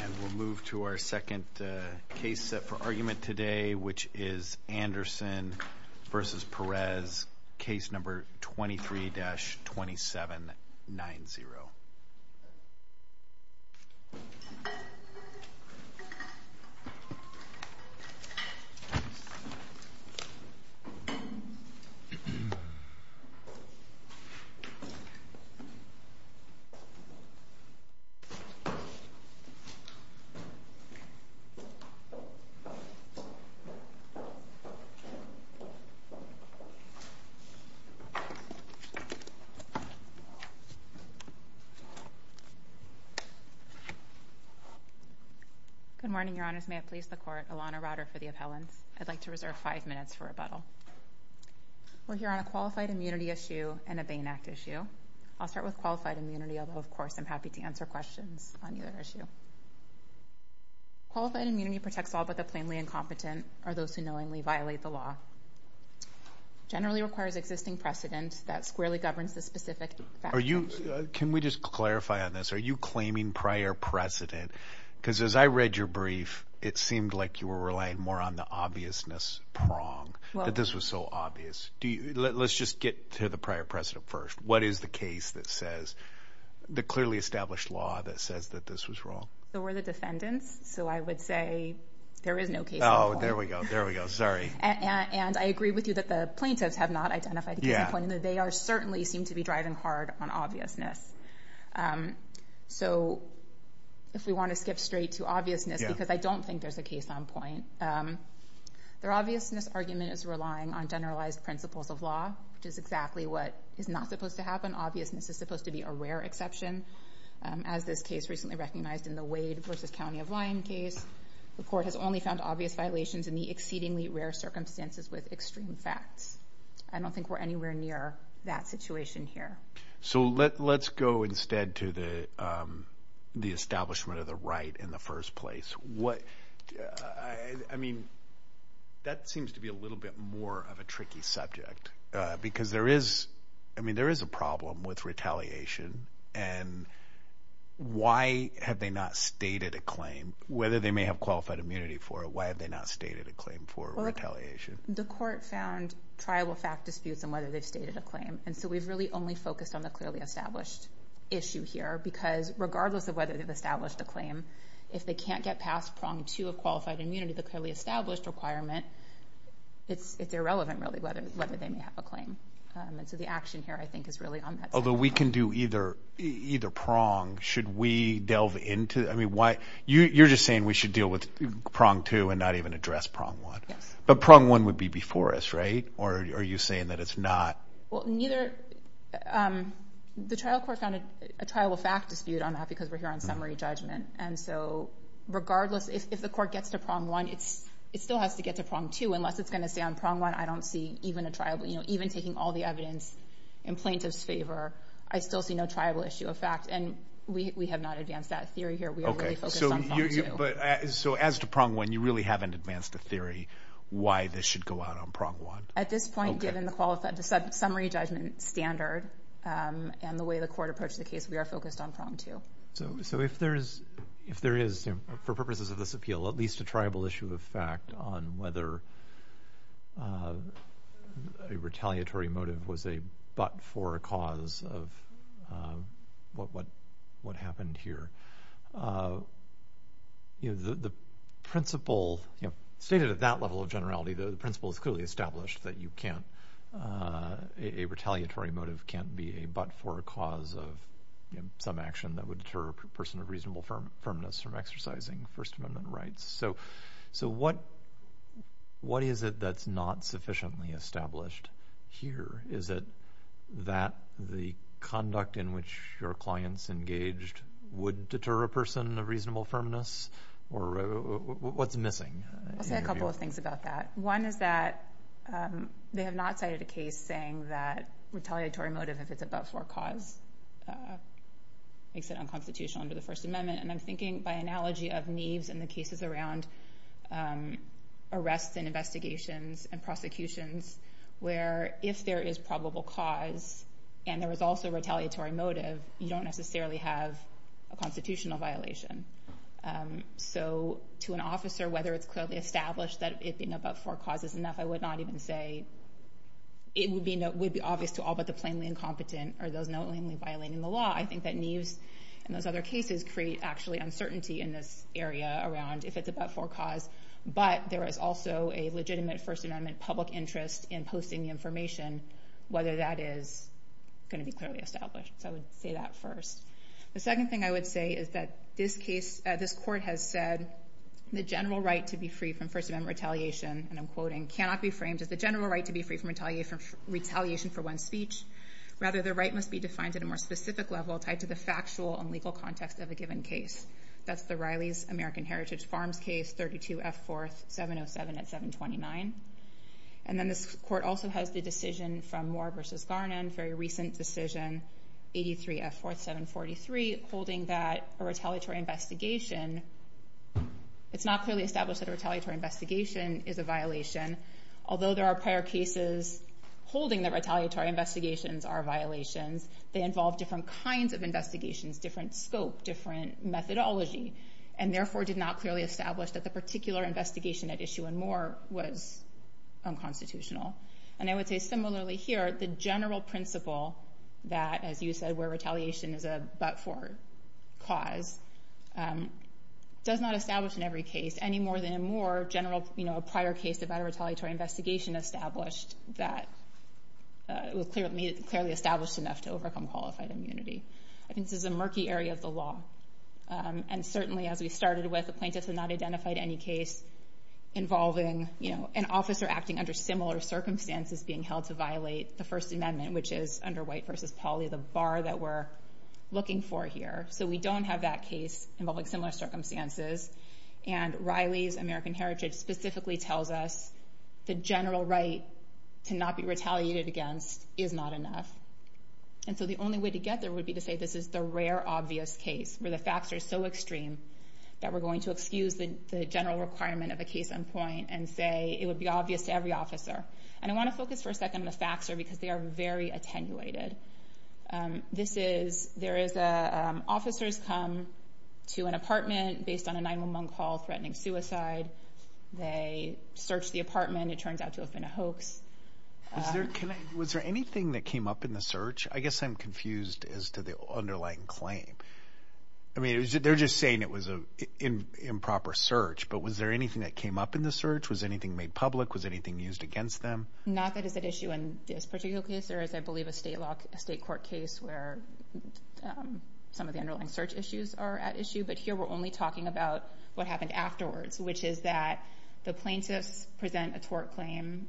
And we'll move to our second case set for argument today which is Anderson versus Perez, case number 23-2790. Good morning, your honors, may it please the court, Alana Rauder for the appellants. I'd like to reserve five minutes for rebuttal. We're here on a qualified immunity issue and a Bain Act issue. I'll start with qualified immunity, although of course I'm happy to answer questions on either issue. Qualified immunity protects all but the plainly incompetent or those who knowingly violate the law. Generally requires existing precedent that squarely governs the specific factors. Can we just clarify on this, are you claiming prior precedent? Because as I read your brief, it seemed like you were relying more on the obviousness prong, that this was so obvious. Let's just get to the prior precedent first. What is the case that says, the clearly established law that says that this was wrong? So we're the defendants, so I would say there is no case on point. Oh, there we go, there we go, sorry. And I agree with you that the plaintiffs have not identified the case on point and that they certainly seem to be driving hard on obviousness. So if we want to skip straight to obviousness, because I don't think there's a case on point, their obviousness argument is relying on generalized principles of law, which is exactly what is not supposed to happen. Obviousness is supposed to be a rare exception. As this case recently recognized in the Wade versus County of Lyon case, the court has only found obvious violations in the exceedingly rare circumstances with extreme facts. I don't think we're anywhere near that situation here. So let's go instead to the establishment of the right in the first place. I mean, that seems to be a little bit more of a tricky subject, because there is, I mean, there is a problem with retaliation and why have they not stated a claim? Whether they may have qualified immunity for it, why have they not stated a claim for retaliation? The court found triable fact disputes on whether they've stated a claim, and so we've really only focused on the clearly established issue here, because regardless of whether they've established a claim, if they can't get past prong two of qualified immunity, the clearly established requirement, it's irrelevant, really, whether they may have a claim. And so the action here, I think, is really on that side. Although we can do either prong. Should we delve into, I mean, you're just saying we should deal with prong two and not even address prong one. Yes. But prong one would be before us, right? Or are you saying that it's not? Well, neither, the trial court found a triable fact dispute on that, because we're here on summary judgment. And so regardless, if the court gets to prong one, it still has to get to prong two, unless it's going to stay on prong one. I don't see even a triable, you know, even taking all the evidence in plaintiff's favor, I still see no triable issue of fact, and we have not advanced that theory here. We are really focused on prong two. So as to prong one, you really haven't advanced a theory why this should go out on prong one? At this point, given the summary judgment standard and the way the court approached the case, we are focused on prong two. So if there is, for purposes of this appeal, at least a triable issue of fact on whether a retaliatory motive was a but for a cause of what happened here, you know, the principle stated at that level of generality, the principle is clearly established that you can't, a retaliatory motive can't be a but for a cause of some action that would deter a person of reasonable firmness from exercising First Amendment rights. So what is it that's not sufficiently established here? Is it that the conduct in which your clients engaged would deter a person of reasonable firmness? Or what's missing? I'll say a couple of things about that. One is that they have not cited a case saying that retaliatory motive if it's a but for a cause makes it unconstitutional under the First Amendment, and I'm thinking by analogy of Neves and the cases around arrests and investigations and prosecutions where if there is probable cause and there is also retaliatory motive, you don't necessarily have a constitutional violation. So to an officer, whether it's clearly established that it being a but for a cause is enough, I would not even say it would be obvious to all but the plainly incompetent or those knowingly violating the law. I think that Neves and those other cases create actually uncertainty in this area around if it's a but for a cause, but there is also a legitimate First Amendment public interest in posting the information, whether that is going to be clearly established. So I would say that first. The second thing I would say is that this case, this court has said the general right to be free from First Amendment retaliation, and I'm quoting, cannot be framed as the general right to be free from retaliation for one's speech, rather the right must be defined at a more specific level tied to the factual and legal context of a given case. That's the Riley's American Heritage Farms case, 32F4707 at 729, and then this court also has the decision from Moore v. Garnon, very recent decision, 83F4743, holding that a retaliatory investigation, it's not clearly established that a retaliatory investigation is a violation, although there are prior cases holding that retaliatory investigations are violations, they involve different kinds of investigations, different scope, different methodology, and therefore did not clearly establish that the particular investigation at issue in Moore was unconstitutional. And I would say similarly here, the general principle that, as you said, where retaliation is a but-for cause, does not establish in every case, any more than in Moore, a prior case of a retaliatory investigation established that was clearly established enough to overcome qualified immunity. I think this is a murky area of the law, and certainly as we started with, the plaintiffs have not identified any case involving an officer acting under similar circumstances being held to violate the First Amendment, which is under White v. Pauley, the bar that we're looking for here. So we don't have that case involving similar circumstances, and Riley's American Heritage specifically tells us the general right to not be retaliated against is not enough. And so the only way to get there would be to say this is the rare obvious case, where the facts are so extreme that we're going to excuse the general requirement of a case on point and say it would be obvious to every officer. And I want to focus for a second on the facts here, because they are very attenuated. This is, there is a, officers come to an apartment based on a 911 call threatening suicide, they search the apartment, it turns out to have been a hoax. Was there anything that came up in the search? I guess I'm confused as to the underlying claim. I mean, they're just saying it was an improper search, but was there anything that came up in the search? Was anything made public? Was anything used against them? Not that it's at issue in this particular case, or as I believe a state court case where some of the underlying search issues are at issue, but here we're only talking about what happened afterwards, which is that the plaintiffs present a tort claim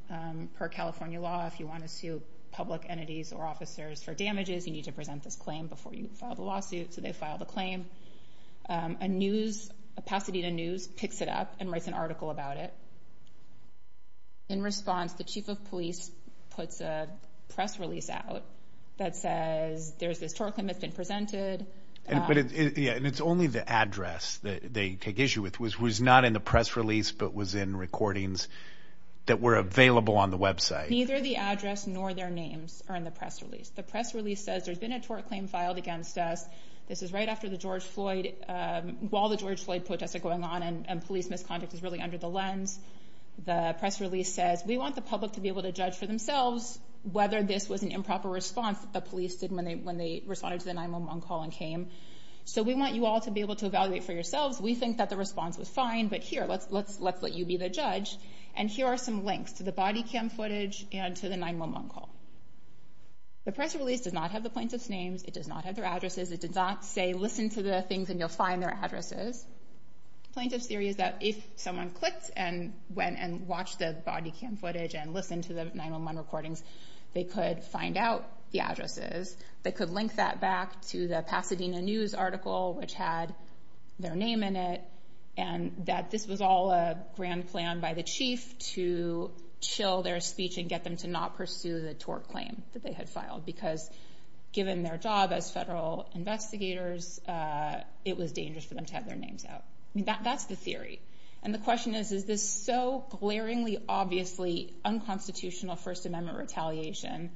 per California law if you want to sue public entities or officers for damages, you need to present this claim before you file the lawsuit, so they file the claim. A news, a Pasadena News picks it up and writes an article about it. In response, the chief of police puts a press release out that says there's this tort claim that's been presented. But it, yeah, and it's only the address that they take issue with, which was not in the press release, but was in recordings that were available on the website. Neither the address nor their names are in the press release. The press release says there's been a tort claim filed against us. This is right after the George Floyd, while the George Floyd protests are going on and police misconduct is really under the lens, the press release says, we want the public to be able to judge for themselves whether this was an improper response that the police did when they responded to the 911 call and came. So we want you all to be able to evaluate for yourselves. We think that the response was fine, but here, let's let you be the judge. And here are some links to the body cam footage and to the 911 call. The press release does not have the plaintiff's names. It does not have their addresses. It did not say, listen to the things and you'll find their addresses. Plaintiff's theory is that if someone clicked and went and watched the body cam footage and listened to the 911 recordings, they could find out the addresses, they could link that back to the Pasadena News article, which had their name in it, and that this was all a grand plan by the chief to chill their speech and get them to not pursue the tort claim that they had filed. Because given their job as federal investigators, it was dangerous for them to have their names out. I mean, that's the theory. And the question is, is this so glaringly, obviously unconstitutional First Amendment retaliation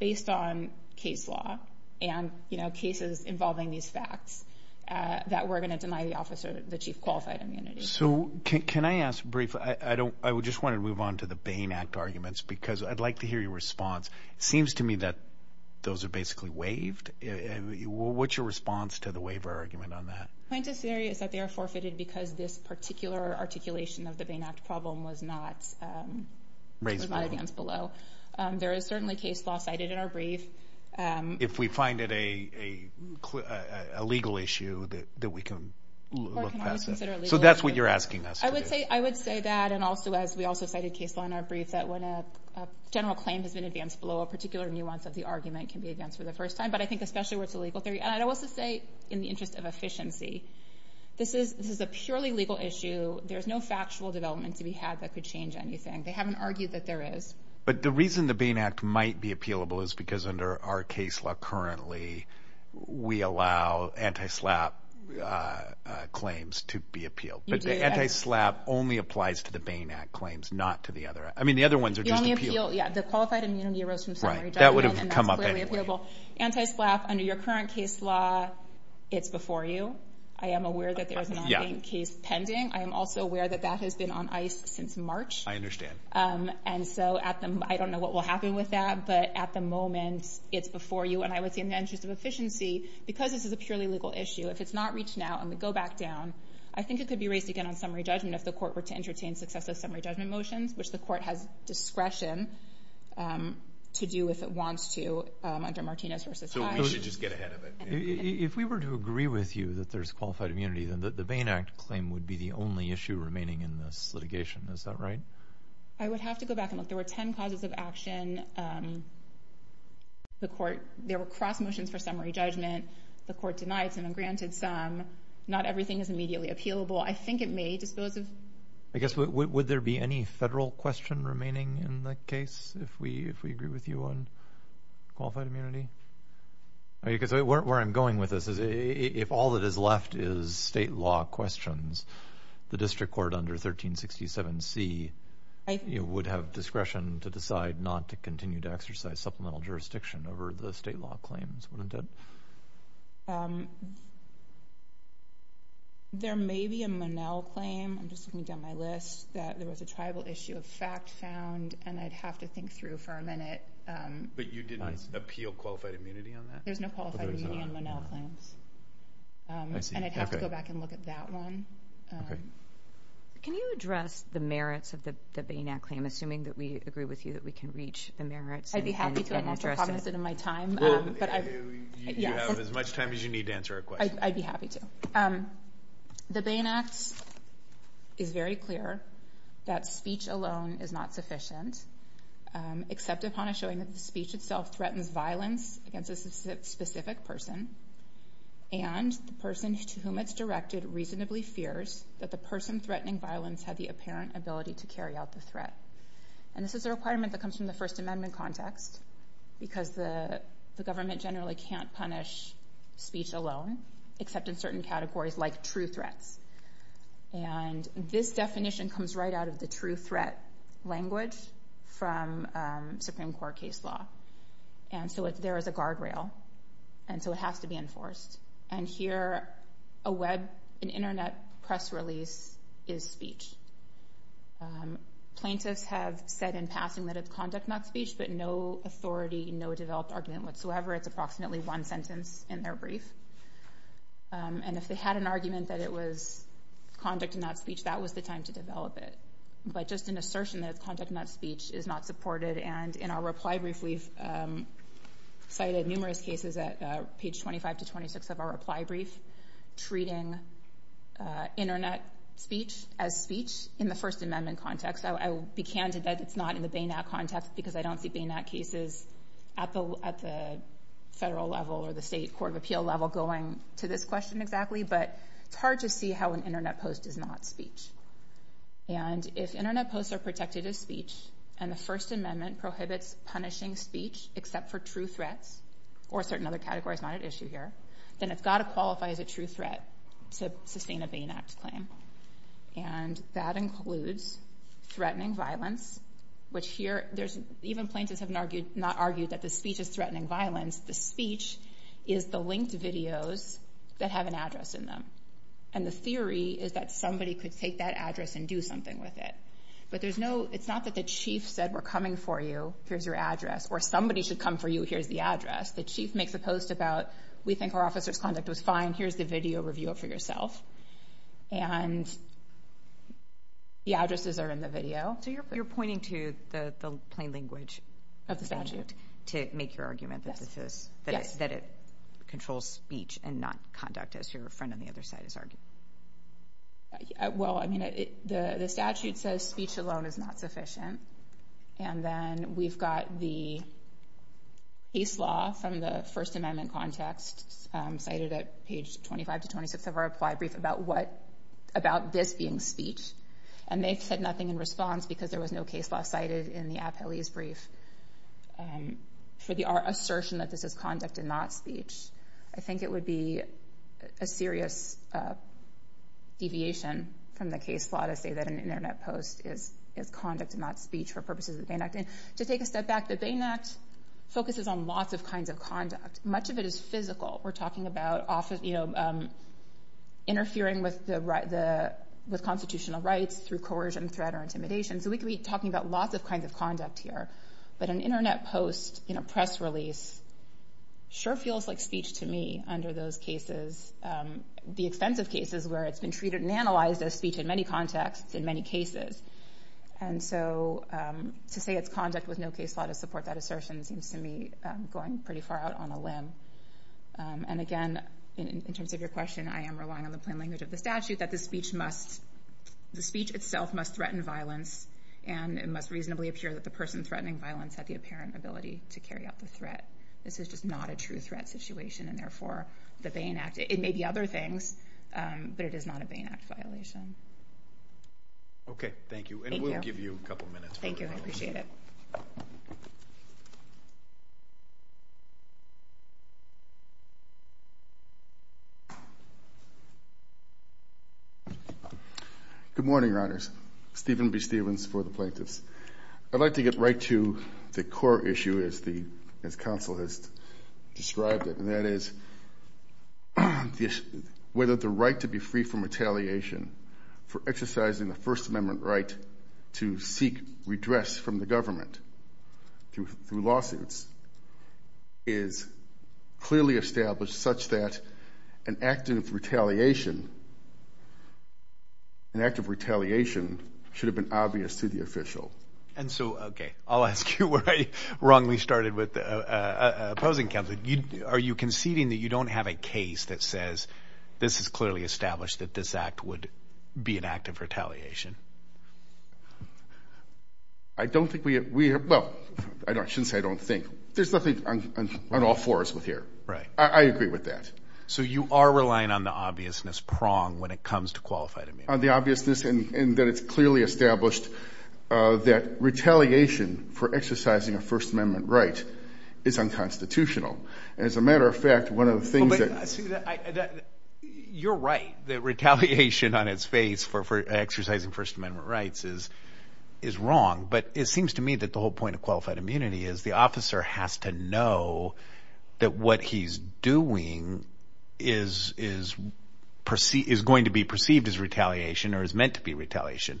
based on case law and cases involving these facts that we're going to deny the officer, the chief, qualified immunity? So can I ask briefly, I don't, I would just want to move on to the Bain Act arguments because I'd like to hear your response. It seems to me that those are basically waived. What's your response to the waiver argument on that? Plaintiff's theory is that they are forfeited because this particular articulation of the Bain Act problem was not raised by the audience below. There is certainly case law cited in our brief. If we find it a legal issue that we can look past it. So that's what you're asking us to do. I would say that. And also, as we also cited case law in our brief, that when a general claim has been advanced below, a particular nuance of the argument can be advanced for the first time. But I think especially where it's a legal theory, and I would also say in the interest of efficiency, this is a purely legal issue. There's no factual development to be had that could change anything. They haven't argued that there is. But the reason the Bain Act might be appealable is because under our case law currently, we allow anti-SLAPP claims to be appealed. You do, yes. But the anti-SLAPP only applies to the Bain Act claims, not to the other. I mean, the other ones are just appealable. You only appeal. Yeah. The qualified immunity arose from summary judgment. That would have come up anyway. And that's clearly appealable. Anti-SLAPP, under your current case law, it's before you. I am aware that there is a non-Bain case pending. I am also aware that that has been on ice since March. I understand. And so at the... I don't know what will happen with that, but at the moment, it's before you. And I would say, in the interest of efficiency, because this is a purely legal issue, if it's not reached now and we go back down, I think it could be raised again on summary judgment if the court were to entertain successive summary judgment motions, which the court has discretion to do if it wants to under Martinez v. Hyde. So it would just get ahead of it. If we were to agree with you that there's qualified immunity, then the Bain Act claim would be the only issue remaining in this litigation. Is that right? I would have to go back and look. There were 10 causes of action. There were cross motions for summary judgment. The court denied some and granted some. Not everything is immediately appealable. I think it may dispose of... I guess, would there be any federal question remaining in the case if we agree with you on qualified immunity? Because where I'm going with this is, if all that is left is state law questions, the district court under 1367C would have discretion to decide not to continue to exercise supplemental jurisdiction over the state law claims, wouldn't it? There may be a Monell claim, I'm just looking down my list, that there was a tribal issue of fact found, and I'd have to think through for a minute. But you did not appeal qualified immunity on that? There's no qualified immunity on Monell claims, and I'd have to go back and look at that one. Okay. Can you address the merits of the Bain Act claim, assuming that we agree with you that we can reach the merits and address it? I need to promise it in my time. Well, you have as much time as you need to answer our question. I'd be happy to. The Bain Act is very clear that speech alone is not sufficient, except upon a showing that the speech itself threatens violence against a specific person, and the person to whom it's directed reasonably fears that the person threatening violence had the apparent ability to carry out the threat. And this is a requirement that comes from the First Amendment context, because the government generally can't punish speech alone, except in certain categories like true threats. And this definition comes right out of the true threat language from Supreme Court case law. And so there is a guardrail, and so it has to be enforced. And here, a web, an internet press release is speech. Plaintiffs have said in passing that it's conduct, not speech, but no authority, no developed argument whatsoever. It's approximately one sentence in their brief. And if they had an argument that it was conduct and not speech, that was the time to develop it. But just an assertion that it's conduct, not speech, is not supported. And in our reply brief, we've cited numerous cases at page 25 to 26 of our reply brief treating internet speech as speech in the First Amendment context. I will be candid that it's not in the BANAC context, because I don't see BANAC cases at the federal level or the state court of appeal level going to this question exactly. But it's hard to see how an internet post is not speech. And if internet posts are protected as speech, and the First Amendment prohibits punishing speech except for true threats, or a certain other category is not at issue here, then it's got to qualify as a true threat to sustain a BANAC claim. And that includes threatening violence, which here, there's, even plaintiffs have not argued that the speech is threatening violence. The speech is the linked videos that have an address in them. And the theory is that somebody could take that address and do something with it. But there's no, it's not that the chief said, we're coming for you, here's your address, or somebody should come for you, here's the address. The chief makes a post about, we think our officer's conduct was fine, here's the video, review it for yourself. And the addresses are in the video. So you're pointing to the plain language of the statute to make your argument that this is, that it controls speech and not conduct, as your friend on the other side is arguing. Well, I mean, the statute says speech alone is not sufficient. And then we've got the case law from the First Amendment context cited at page 25 to 26 of our reply brief about what, about this being speech. And they've said nothing in response because there was no case law cited in the appellee's brief for our assertion that this is conduct and not speech. I think it would be a serious deviation from the case law to say that an internet post is conduct and not speech for purposes of the Bain Act. To take a step back, the Bain Act focuses on lots of kinds of conduct. Much of it is physical. We're talking about interfering with constitutional rights through coercion, threat, or intimidation. So we could be talking about lots of kinds of conduct here. But an internet post in a press release sure feels like speech to me under those cases, the extensive cases where it's been treated and analyzed as speech in many contexts in many cases. And so to say it's conduct with no case law to support that assertion seems to me going pretty far out on a limb. And again, in terms of your question, I am relying on the plain language of the statute that the speech must, the speech itself must threaten violence and it must reasonably appear that the person threatening violence had the apparent ability to carry out the threat. This is just not a true threat situation and therefore the Bain Act, it may be other things, but it is not a Bain Act violation. Okay. Thank you. Thank you. And we'll give you a couple minutes. Thank you. I appreciate it. Good morning, Your Honors. Stephen B. Stevens for the Plaintiffs. I'd like to get right to the core issue as counsel has described it, and that is whether the right to be free from retaliation for exercising the First Amendment right to seek redress from the government through lawsuits is clearly established such that an act of retaliation, an act of retaliation should have been obvious to the official. And so, okay, I'll ask you where I wrongly started with opposing counsel. Are you conceding that you don't have a case that says this is clearly established that this act would be an act of retaliation? I don't think we have, well, I shouldn't say I don't think. There's nothing on all fours with here. I agree with that. So you are relying on the obviousness prong when it comes to qualified immunity? The obviousness in that it's clearly established that retaliation for exercising a First Amendment right is unconstitutional. As a matter of fact, one of the things that... You're right that retaliation on its face for exercising First Amendment rights is wrong, but it seems to me that the whole point of qualified immunity is the officer has to know that what he's doing is going to be perceived as retaliation or is meant to be retaliation.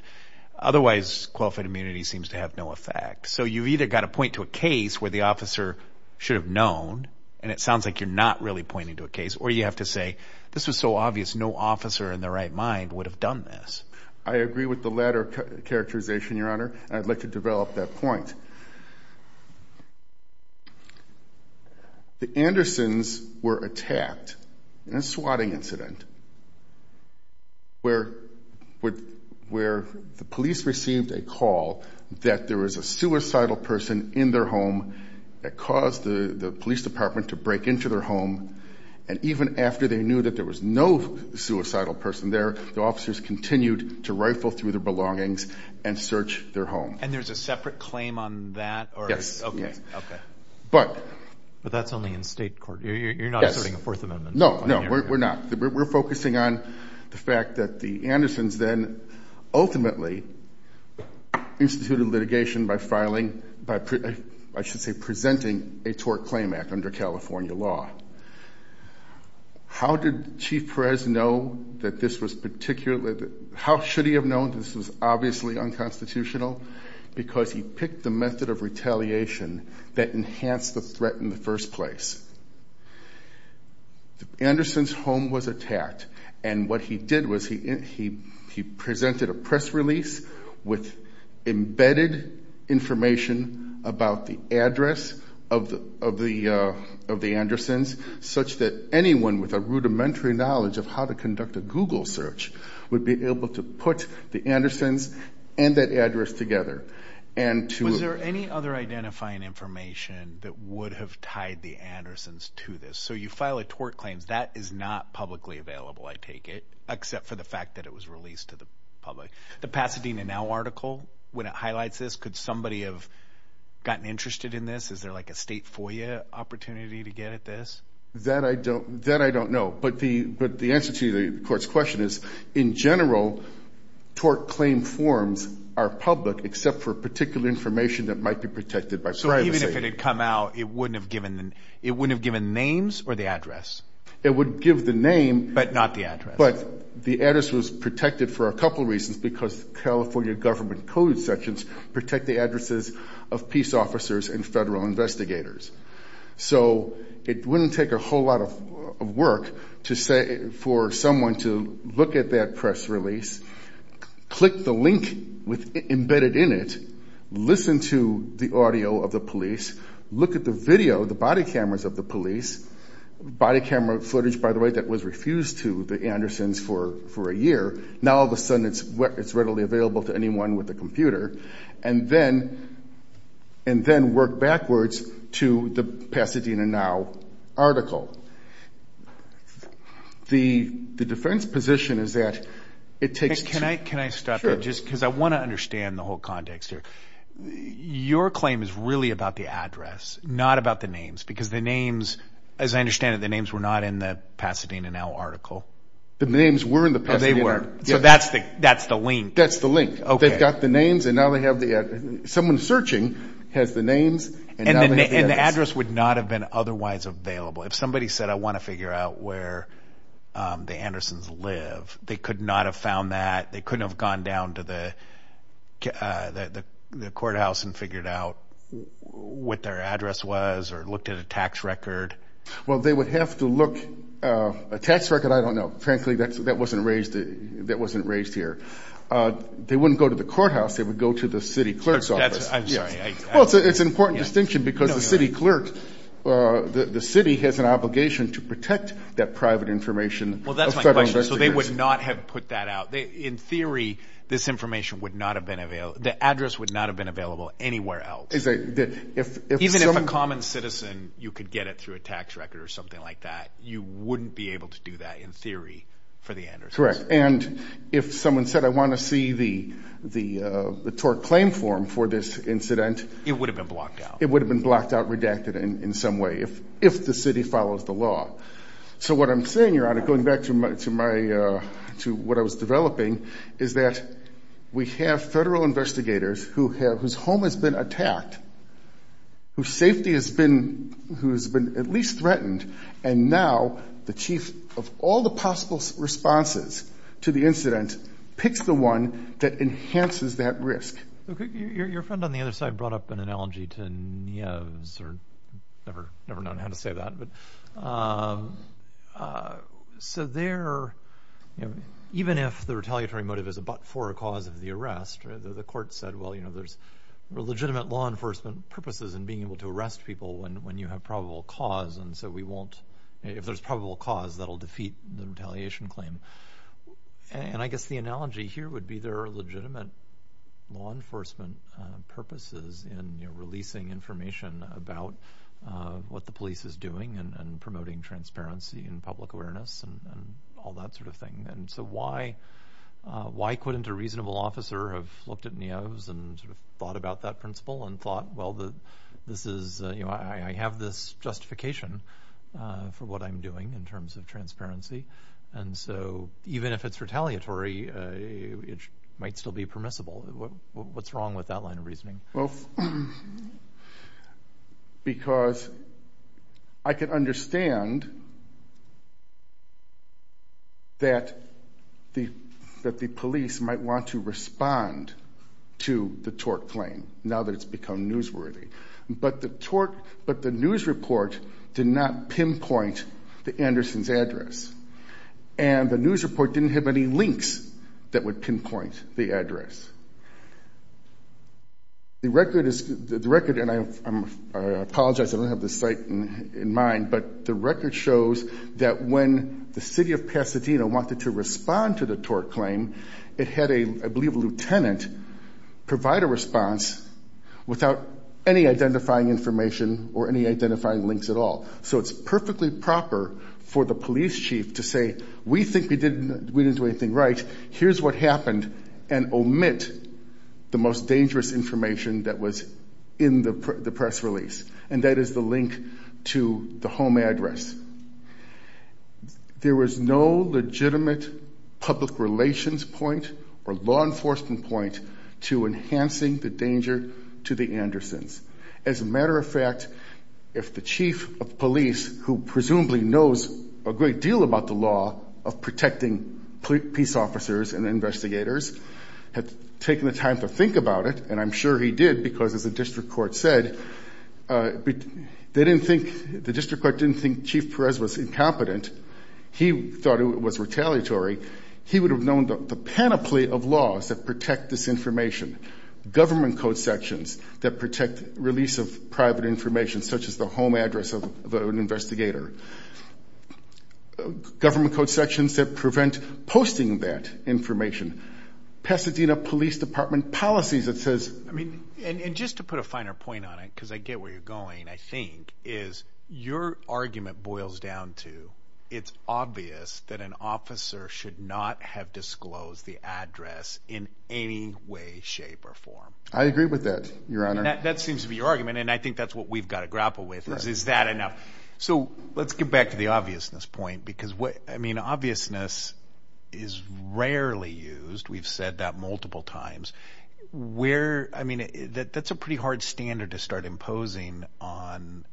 Otherwise, qualified immunity seems to have no effect. So you've either got to point to a case where the officer should have known, and it sounds like you're not really pointing to a case, or you have to say, this was so obvious, no officer in their right mind would have done this. I agree with the latter characterization, Your Honor. I'd like to develop that point. The Andersons were attacked in a swatting incident where the police received a call that there was a suicidal person in their home that caused the police department to break into their home. And even after they knew that there was no suicidal person there, the officers continued to rifle through their belongings and search their home. And there's a separate claim on that? Yes. Okay. Okay. But that's only in state court. You're not asserting a Fourth Amendment claim here? No. No, we're not. We're focusing on the fact that the Andersons then ultimately instituted litigation by filing, by I should say presenting a tort claim act under California law. How did Chief Perez know that this was particularly, how should he have known this was obviously unconstitutional? Because he picked the method of retaliation that enhanced the threat in the first place. Anderson's home was attacked. And what he did was he presented a press release with embedded information about the address of the Andersons, such that anyone with a rudimentary knowledge of how to conduct a Google search would be able to put the Andersons and that address together. And to- Was there any other identifying information that would have tied the Andersons to this? So you file a tort claims, that is not publicly available, I take it, except for the fact that it was released to the public. The Pasadena Now article, when it highlights this, could somebody have gotten interested in this? Is there like a state FOIA opportunity to get at this? That I don't know. But the answer to the court's question is, in general, tort claim forms are public except for particular information that might be protected by privacy. So even if it had come out, it wouldn't have given names or the address? It would give the name- But not the address. But the address was protected for a couple of reasons, because California government code sections protect the addresses of peace officers and federal investigators. So it wouldn't take a whole lot of work for someone to look at that press release, click the link embedded in it, listen to the audio of the police, look at the video, the body cameras of the police, body camera footage, by the way, that was refused to the Andersons for a year. Now all of a sudden, it's readily available to anyone with a computer, and then work backwards to the Pasadena Now article. The defense position is that it takes- Can I stop there? Just because I want to understand the whole context here. Your claim is really about the address, not about the names, because the names, as I understand it, the names were not in the Pasadena Now article. The names were in the Pasadena- So that's the link. That's the link. They've got the names, and now they have the address. Someone searching has the names, and now they have the address. And the address would not have been otherwise available. If somebody said, I want to figure out where the Andersons live, they could not have found that. They couldn't have gone down to the courthouse and figured out what their address was, or looked at a tax record. Well, they would have to look... A tax record, I don't know. Frankly, that wasn't raised here. They wouldn't go to the courthouse. They would go to the city clerk's office. I'm sorry. Well, it's an important distinction, because the city clerk, the city has an obligation to protect that private information of federal investigators. Well, that's my question. So they would not have put that out. In theory, this information would not have been available. The address would not have been available anywhere else. Even if a common citizen, you could get it through a tax record or something like that, you wouldn't be able to do that in theory for the Andersons. Correct. And if someone said, I want to see the tort claim form for this incident- It would have been blocked out. It would have been blocked out, redacted in some way, if the city follows the law. So what I'm saying, Your Honor, going back to what I was developing, is that we have federal investigators whose home has been attacked, whose safety has been at least threatened, and now the chief of all the possible responses to the incident picks the one that enhances that risk. Your friend on the other side brought up an analogy to Nieves, or never known how to say that. So there, even if the retaliatory motive is but for a cause of the arrest, the court said, well, there's legitimate law enforcement purposes in being able to arrest people when you have probable cause. And so we won't, if there's probable cause, that'll defeat the retaliation claim. And I guess the analogy here would be there are legitimate law enforcement purposes in releasing information about what the police is doing and promoting transparency and public awareness and all that sort of thing. And so why couldn't a reasonable officer have looked at Nieves and thought about that principle and thought, well, I have this justification for what I'm doing in terms of transparency. And so even if it's retaliatory, it might still be permissible. What's wrong with that line of reasoning? Because I can understand that the police might want to respond to the tort claim now that it's become newsworthy. But the tort, but the news report did not pinpoint the Anderson's address. And the news report didn't have any links that would pinpoint the address. The record is, the record, and I apologize, I don't have the site in mind, but the record shows that when the city of Pasadena wanted to respond to the tort claim, it had a, I without any identifying information or any identifying links at all. So it's perfectly proper for the police chief to say, we think we didn't do anything right. Here's what happened, and omit the most dangerous information that was in the press release. And that is the link to the home address. There was no legitimate public relations point or law enforcement point to enhancing the danger to the Anderson's. As a matter of fact, if the chief of police, who presumably knows a great deal about the law of protecting police officers and investigators, had taken the time to think about it, and I'm sure he did, because as the district court said, they didn't think, the district court didn't think Chief Perez was incompetent. He thought it was retaliatory. He would have known the panoply of laws that protect this information. Government code sections that protect release of private information, such as the home address of an investigator. Government code sections that prevent posting that information. Pasadena Police Department policies that says- I mean, and just to put a finer point on it, because I get where you're going, I think, is your argument boils down to, it's obvious that an officer should not have disclosed the address in any way, shape, or form. I agree with that, your honor. That seems to be your argument, and I think that's what we've got to grapple with, is that enough. So, let's get back to the obviousness point, because obviousness is rarely used. We've said that multiple times. That's a pretty hard standard to start imposing on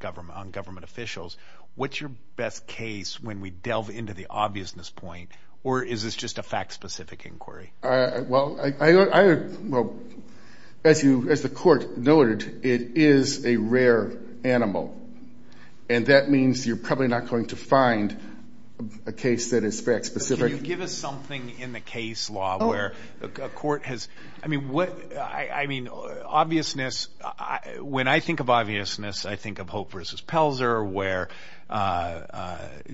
government officials. What's your best case when we delve into the obviousness point, or is this just a fact-specific inquiry? Well, as the court noted, it is a rare animal, and that means you're probably not going to find a case that is fact-specific. Can you give us something in the case law where a court has- I mean, obviousness, when I think of obviousness, I think of Hope v. Pelzer, where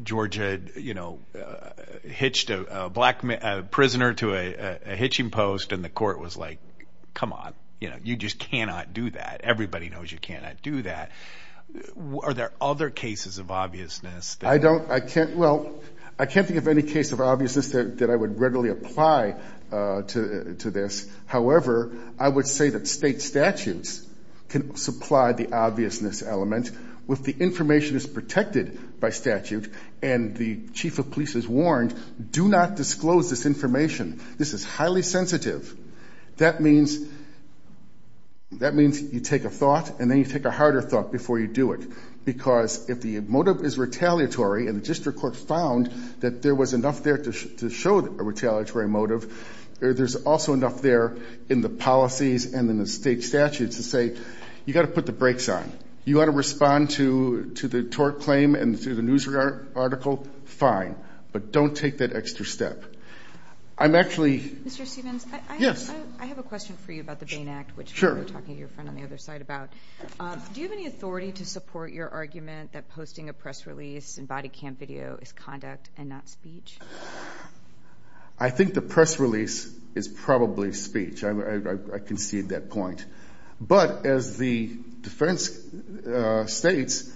Georgia hitched a black prisoner to a hitching post, and the court was like, come on. You just cannot do that. Everybody knows you cannot do that. Are there other cases of obviousness that- I don't, I can't, well, I can't think of any case of obviousness that I would readily apply to this. However, I would say that state statutes can supply the obviousness element, if the information is protected by statute, and the chief of police is warned, do not disclose this information. This is highly sensitive. That means you take a thought, and then you take a harder thought before you do it, because if the motive is retaliatory, and the district court found that there was enough there to show a retaliatory motive, there's also enough there in the policies and in the state statutes to say, you got to put the brakes on. You got to respond to the tort claim and to the news article, fine, but don't take that extra step. I'm actually- Mr. Stephens? Yes. I have a question for you about the Bain Act, which we were talking to your friend on the other side about. Do you have any authority to support your argument that posting a press release in body camera video is conduct and not speech? I think the press release is probably speech. I concede that point. But as the defense states,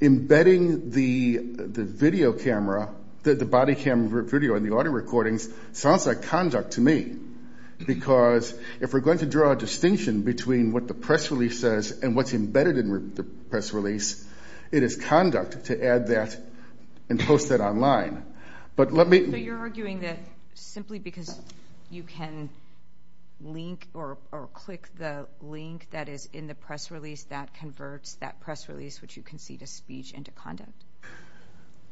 embedding the video camera, the body camera video in the audio recordings sounds like conduct to me, because if we're going to draw a distinction between what the press release says and what's embedded in the press release, it is conduct to add that and post that online. But let me- So you're arguing that simply because you can link or click the link that is in the press release, that converts that press release, which you concede is speech, into conduct?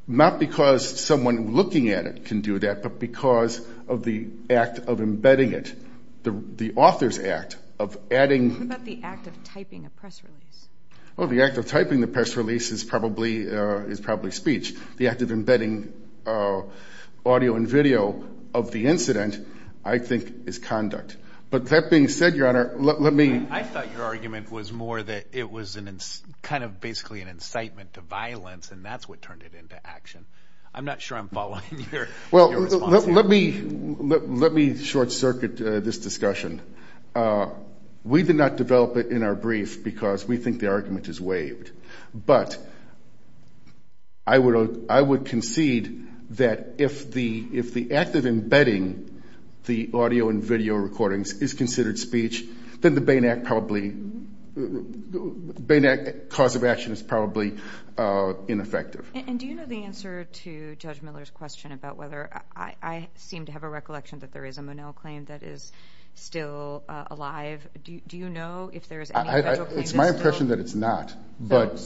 Not because someone looking at it can do that, but because of the act of embedding it, the author's act of adding- What about the act of typing a press release? Well, the act of typing the press release is probably speech. The act of embedding audio and video of the incident, I think, is conduct. But that being said, Your Honor, let me- I thought your argument was more that it was kind of basically an incitement to violence and that's what turned it into action. I'm not sure I'm following your response here. Let me short circuit this discussion. We did not develop it in our brief because we think the argument is waived. But I would concede that if the act of embedding the audio and video recordings is considered speech, then the Bain Act probably- Bain Act cause of action is probably ineffective. And do you know the answer to Judge Miller's question about whether- I seem to have a recollection that there is a Monell claim that is still alive. Do you know if there is any federal claim that's still- It's my impression that it's not, but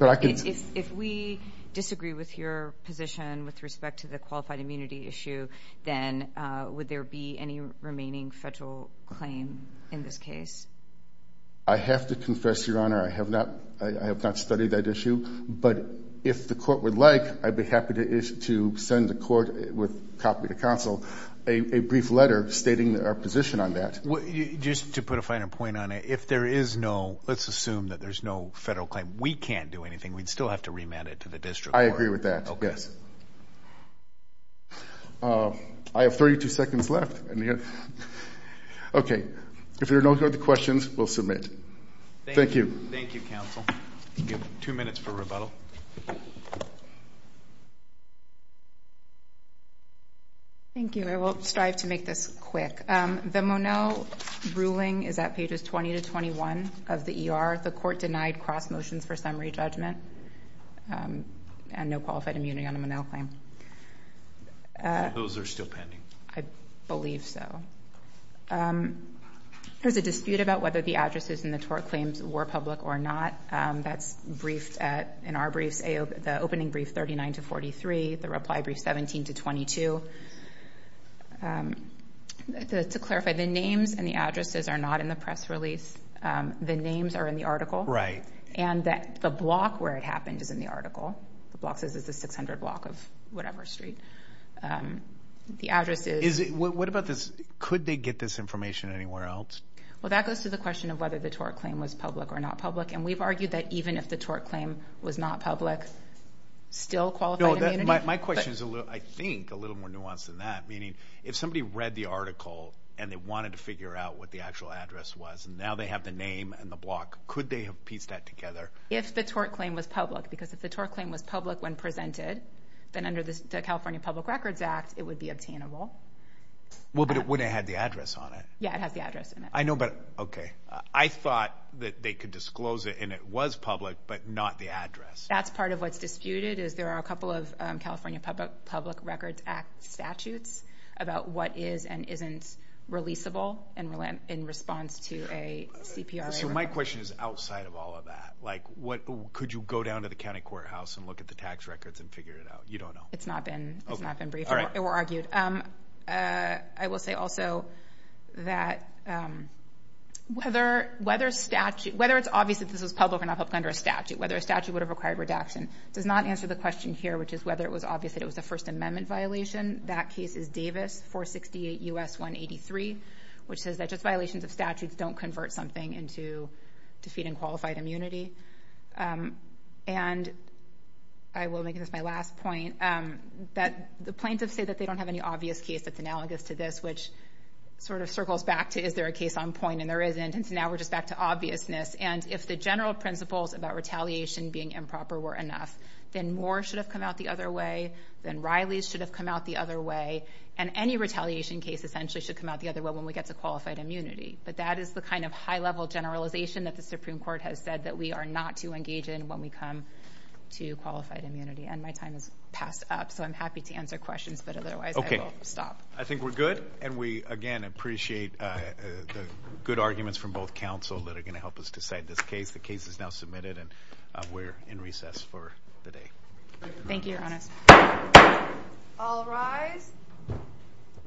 I can- If we disagree with your position with respect to the qualified immunity issue, then would there be any remaining federal claim in this case? I have to confess, Your Honor, I have not studied that issue. But if the court would like, I'd be happy to send the court with a copy to counsel a brief letter stating our position on that. Just to put a finer point on it, if there is no- let's assume that there's no federal claim, we can't do anything. We'd still have to remand it to the district court. I agree with that, yes. Okay. I have 32 seconds left. Okay. If there are no further questions, we'll submit. Thank you. Thank you, counsel. Two minutes for rebuttal. Thank you. I will strive to make this quick. The Monell ruling is at pages 20 to 21 of the ER. The court denied cross motions for summary judgment and no qualified immunity on a Monell claim. So those are still pending? I believe so. There's a dispute about whether the addresses in the tort claims were public or not. That's briefed in our briefs, the opening brief 39 to 43, the reply brief 17 to 22. To clarify, the names and the addresses are not in the press release. The names are in the article. Right. And the block where it happened is in the article. The block says it's the 600 block of whatever street. The address is- What about this? Could they get this information anywhere else? Well, that goes to the question of whether the tort claim was public or not public. And we've argued that even if the tort claim was not public, still qualified immunity. My question is, I think, a little more nuanced than that, meaning if somebody read the article and they wanted to figure out what the actual address was, and now they have the name and the block, could they have pieced that together? If the tort claim was public, because if the tort claim was public when presented, then under the California Public Records Act, it would be obtainable. Well, but it wouldn't have the address on it. Yeah, it has the address in it. I know, but, okay. I thought that they could disclose it and it was public, but not the address. That's part of what's disputed, is there are a couple of California Public Records Act statutes about what is and isn't releasable in response to a CPRA request. My question is outside of all of that. Could you go down to the county courthouse and look at the tax records and figure it out? You don't know. It's not been briefed or argued. I will say also that whether it's obvious that this was public or not public under a statute, whether a statute would have required redaction, does not answer the question here, which is whether it was obvious that it was a First Amendment violation. That case is Davis 468 U.S. 183, which says that just violations of statutes don't convert something into defeating qualified immunity. I will make this my last point. The plaintiffs say that they don't have any obvious case that's analogous to this, which sort of circles back to is there a case on point and there isn't, and so now we're just back to obviousness. If the general principles about retaliation being improper were enough, then more should have come out the other way, then Riley's should have come out the other way, and any retaliation case essentially should come out the other way when we get to qualified immunity. But that is the kind of high-level generalization that the Supreme Court has said that we are not to engage in when we come to qualified immunity, and my time has passed up, so I'm happy to answer questions, but otherwise I will stop. I think we're good, and we again appreciate the good arguments from both counsel that are going to help us decide this case. The case is now submitted, and we're in recess for the day. Thank you, Your Honor.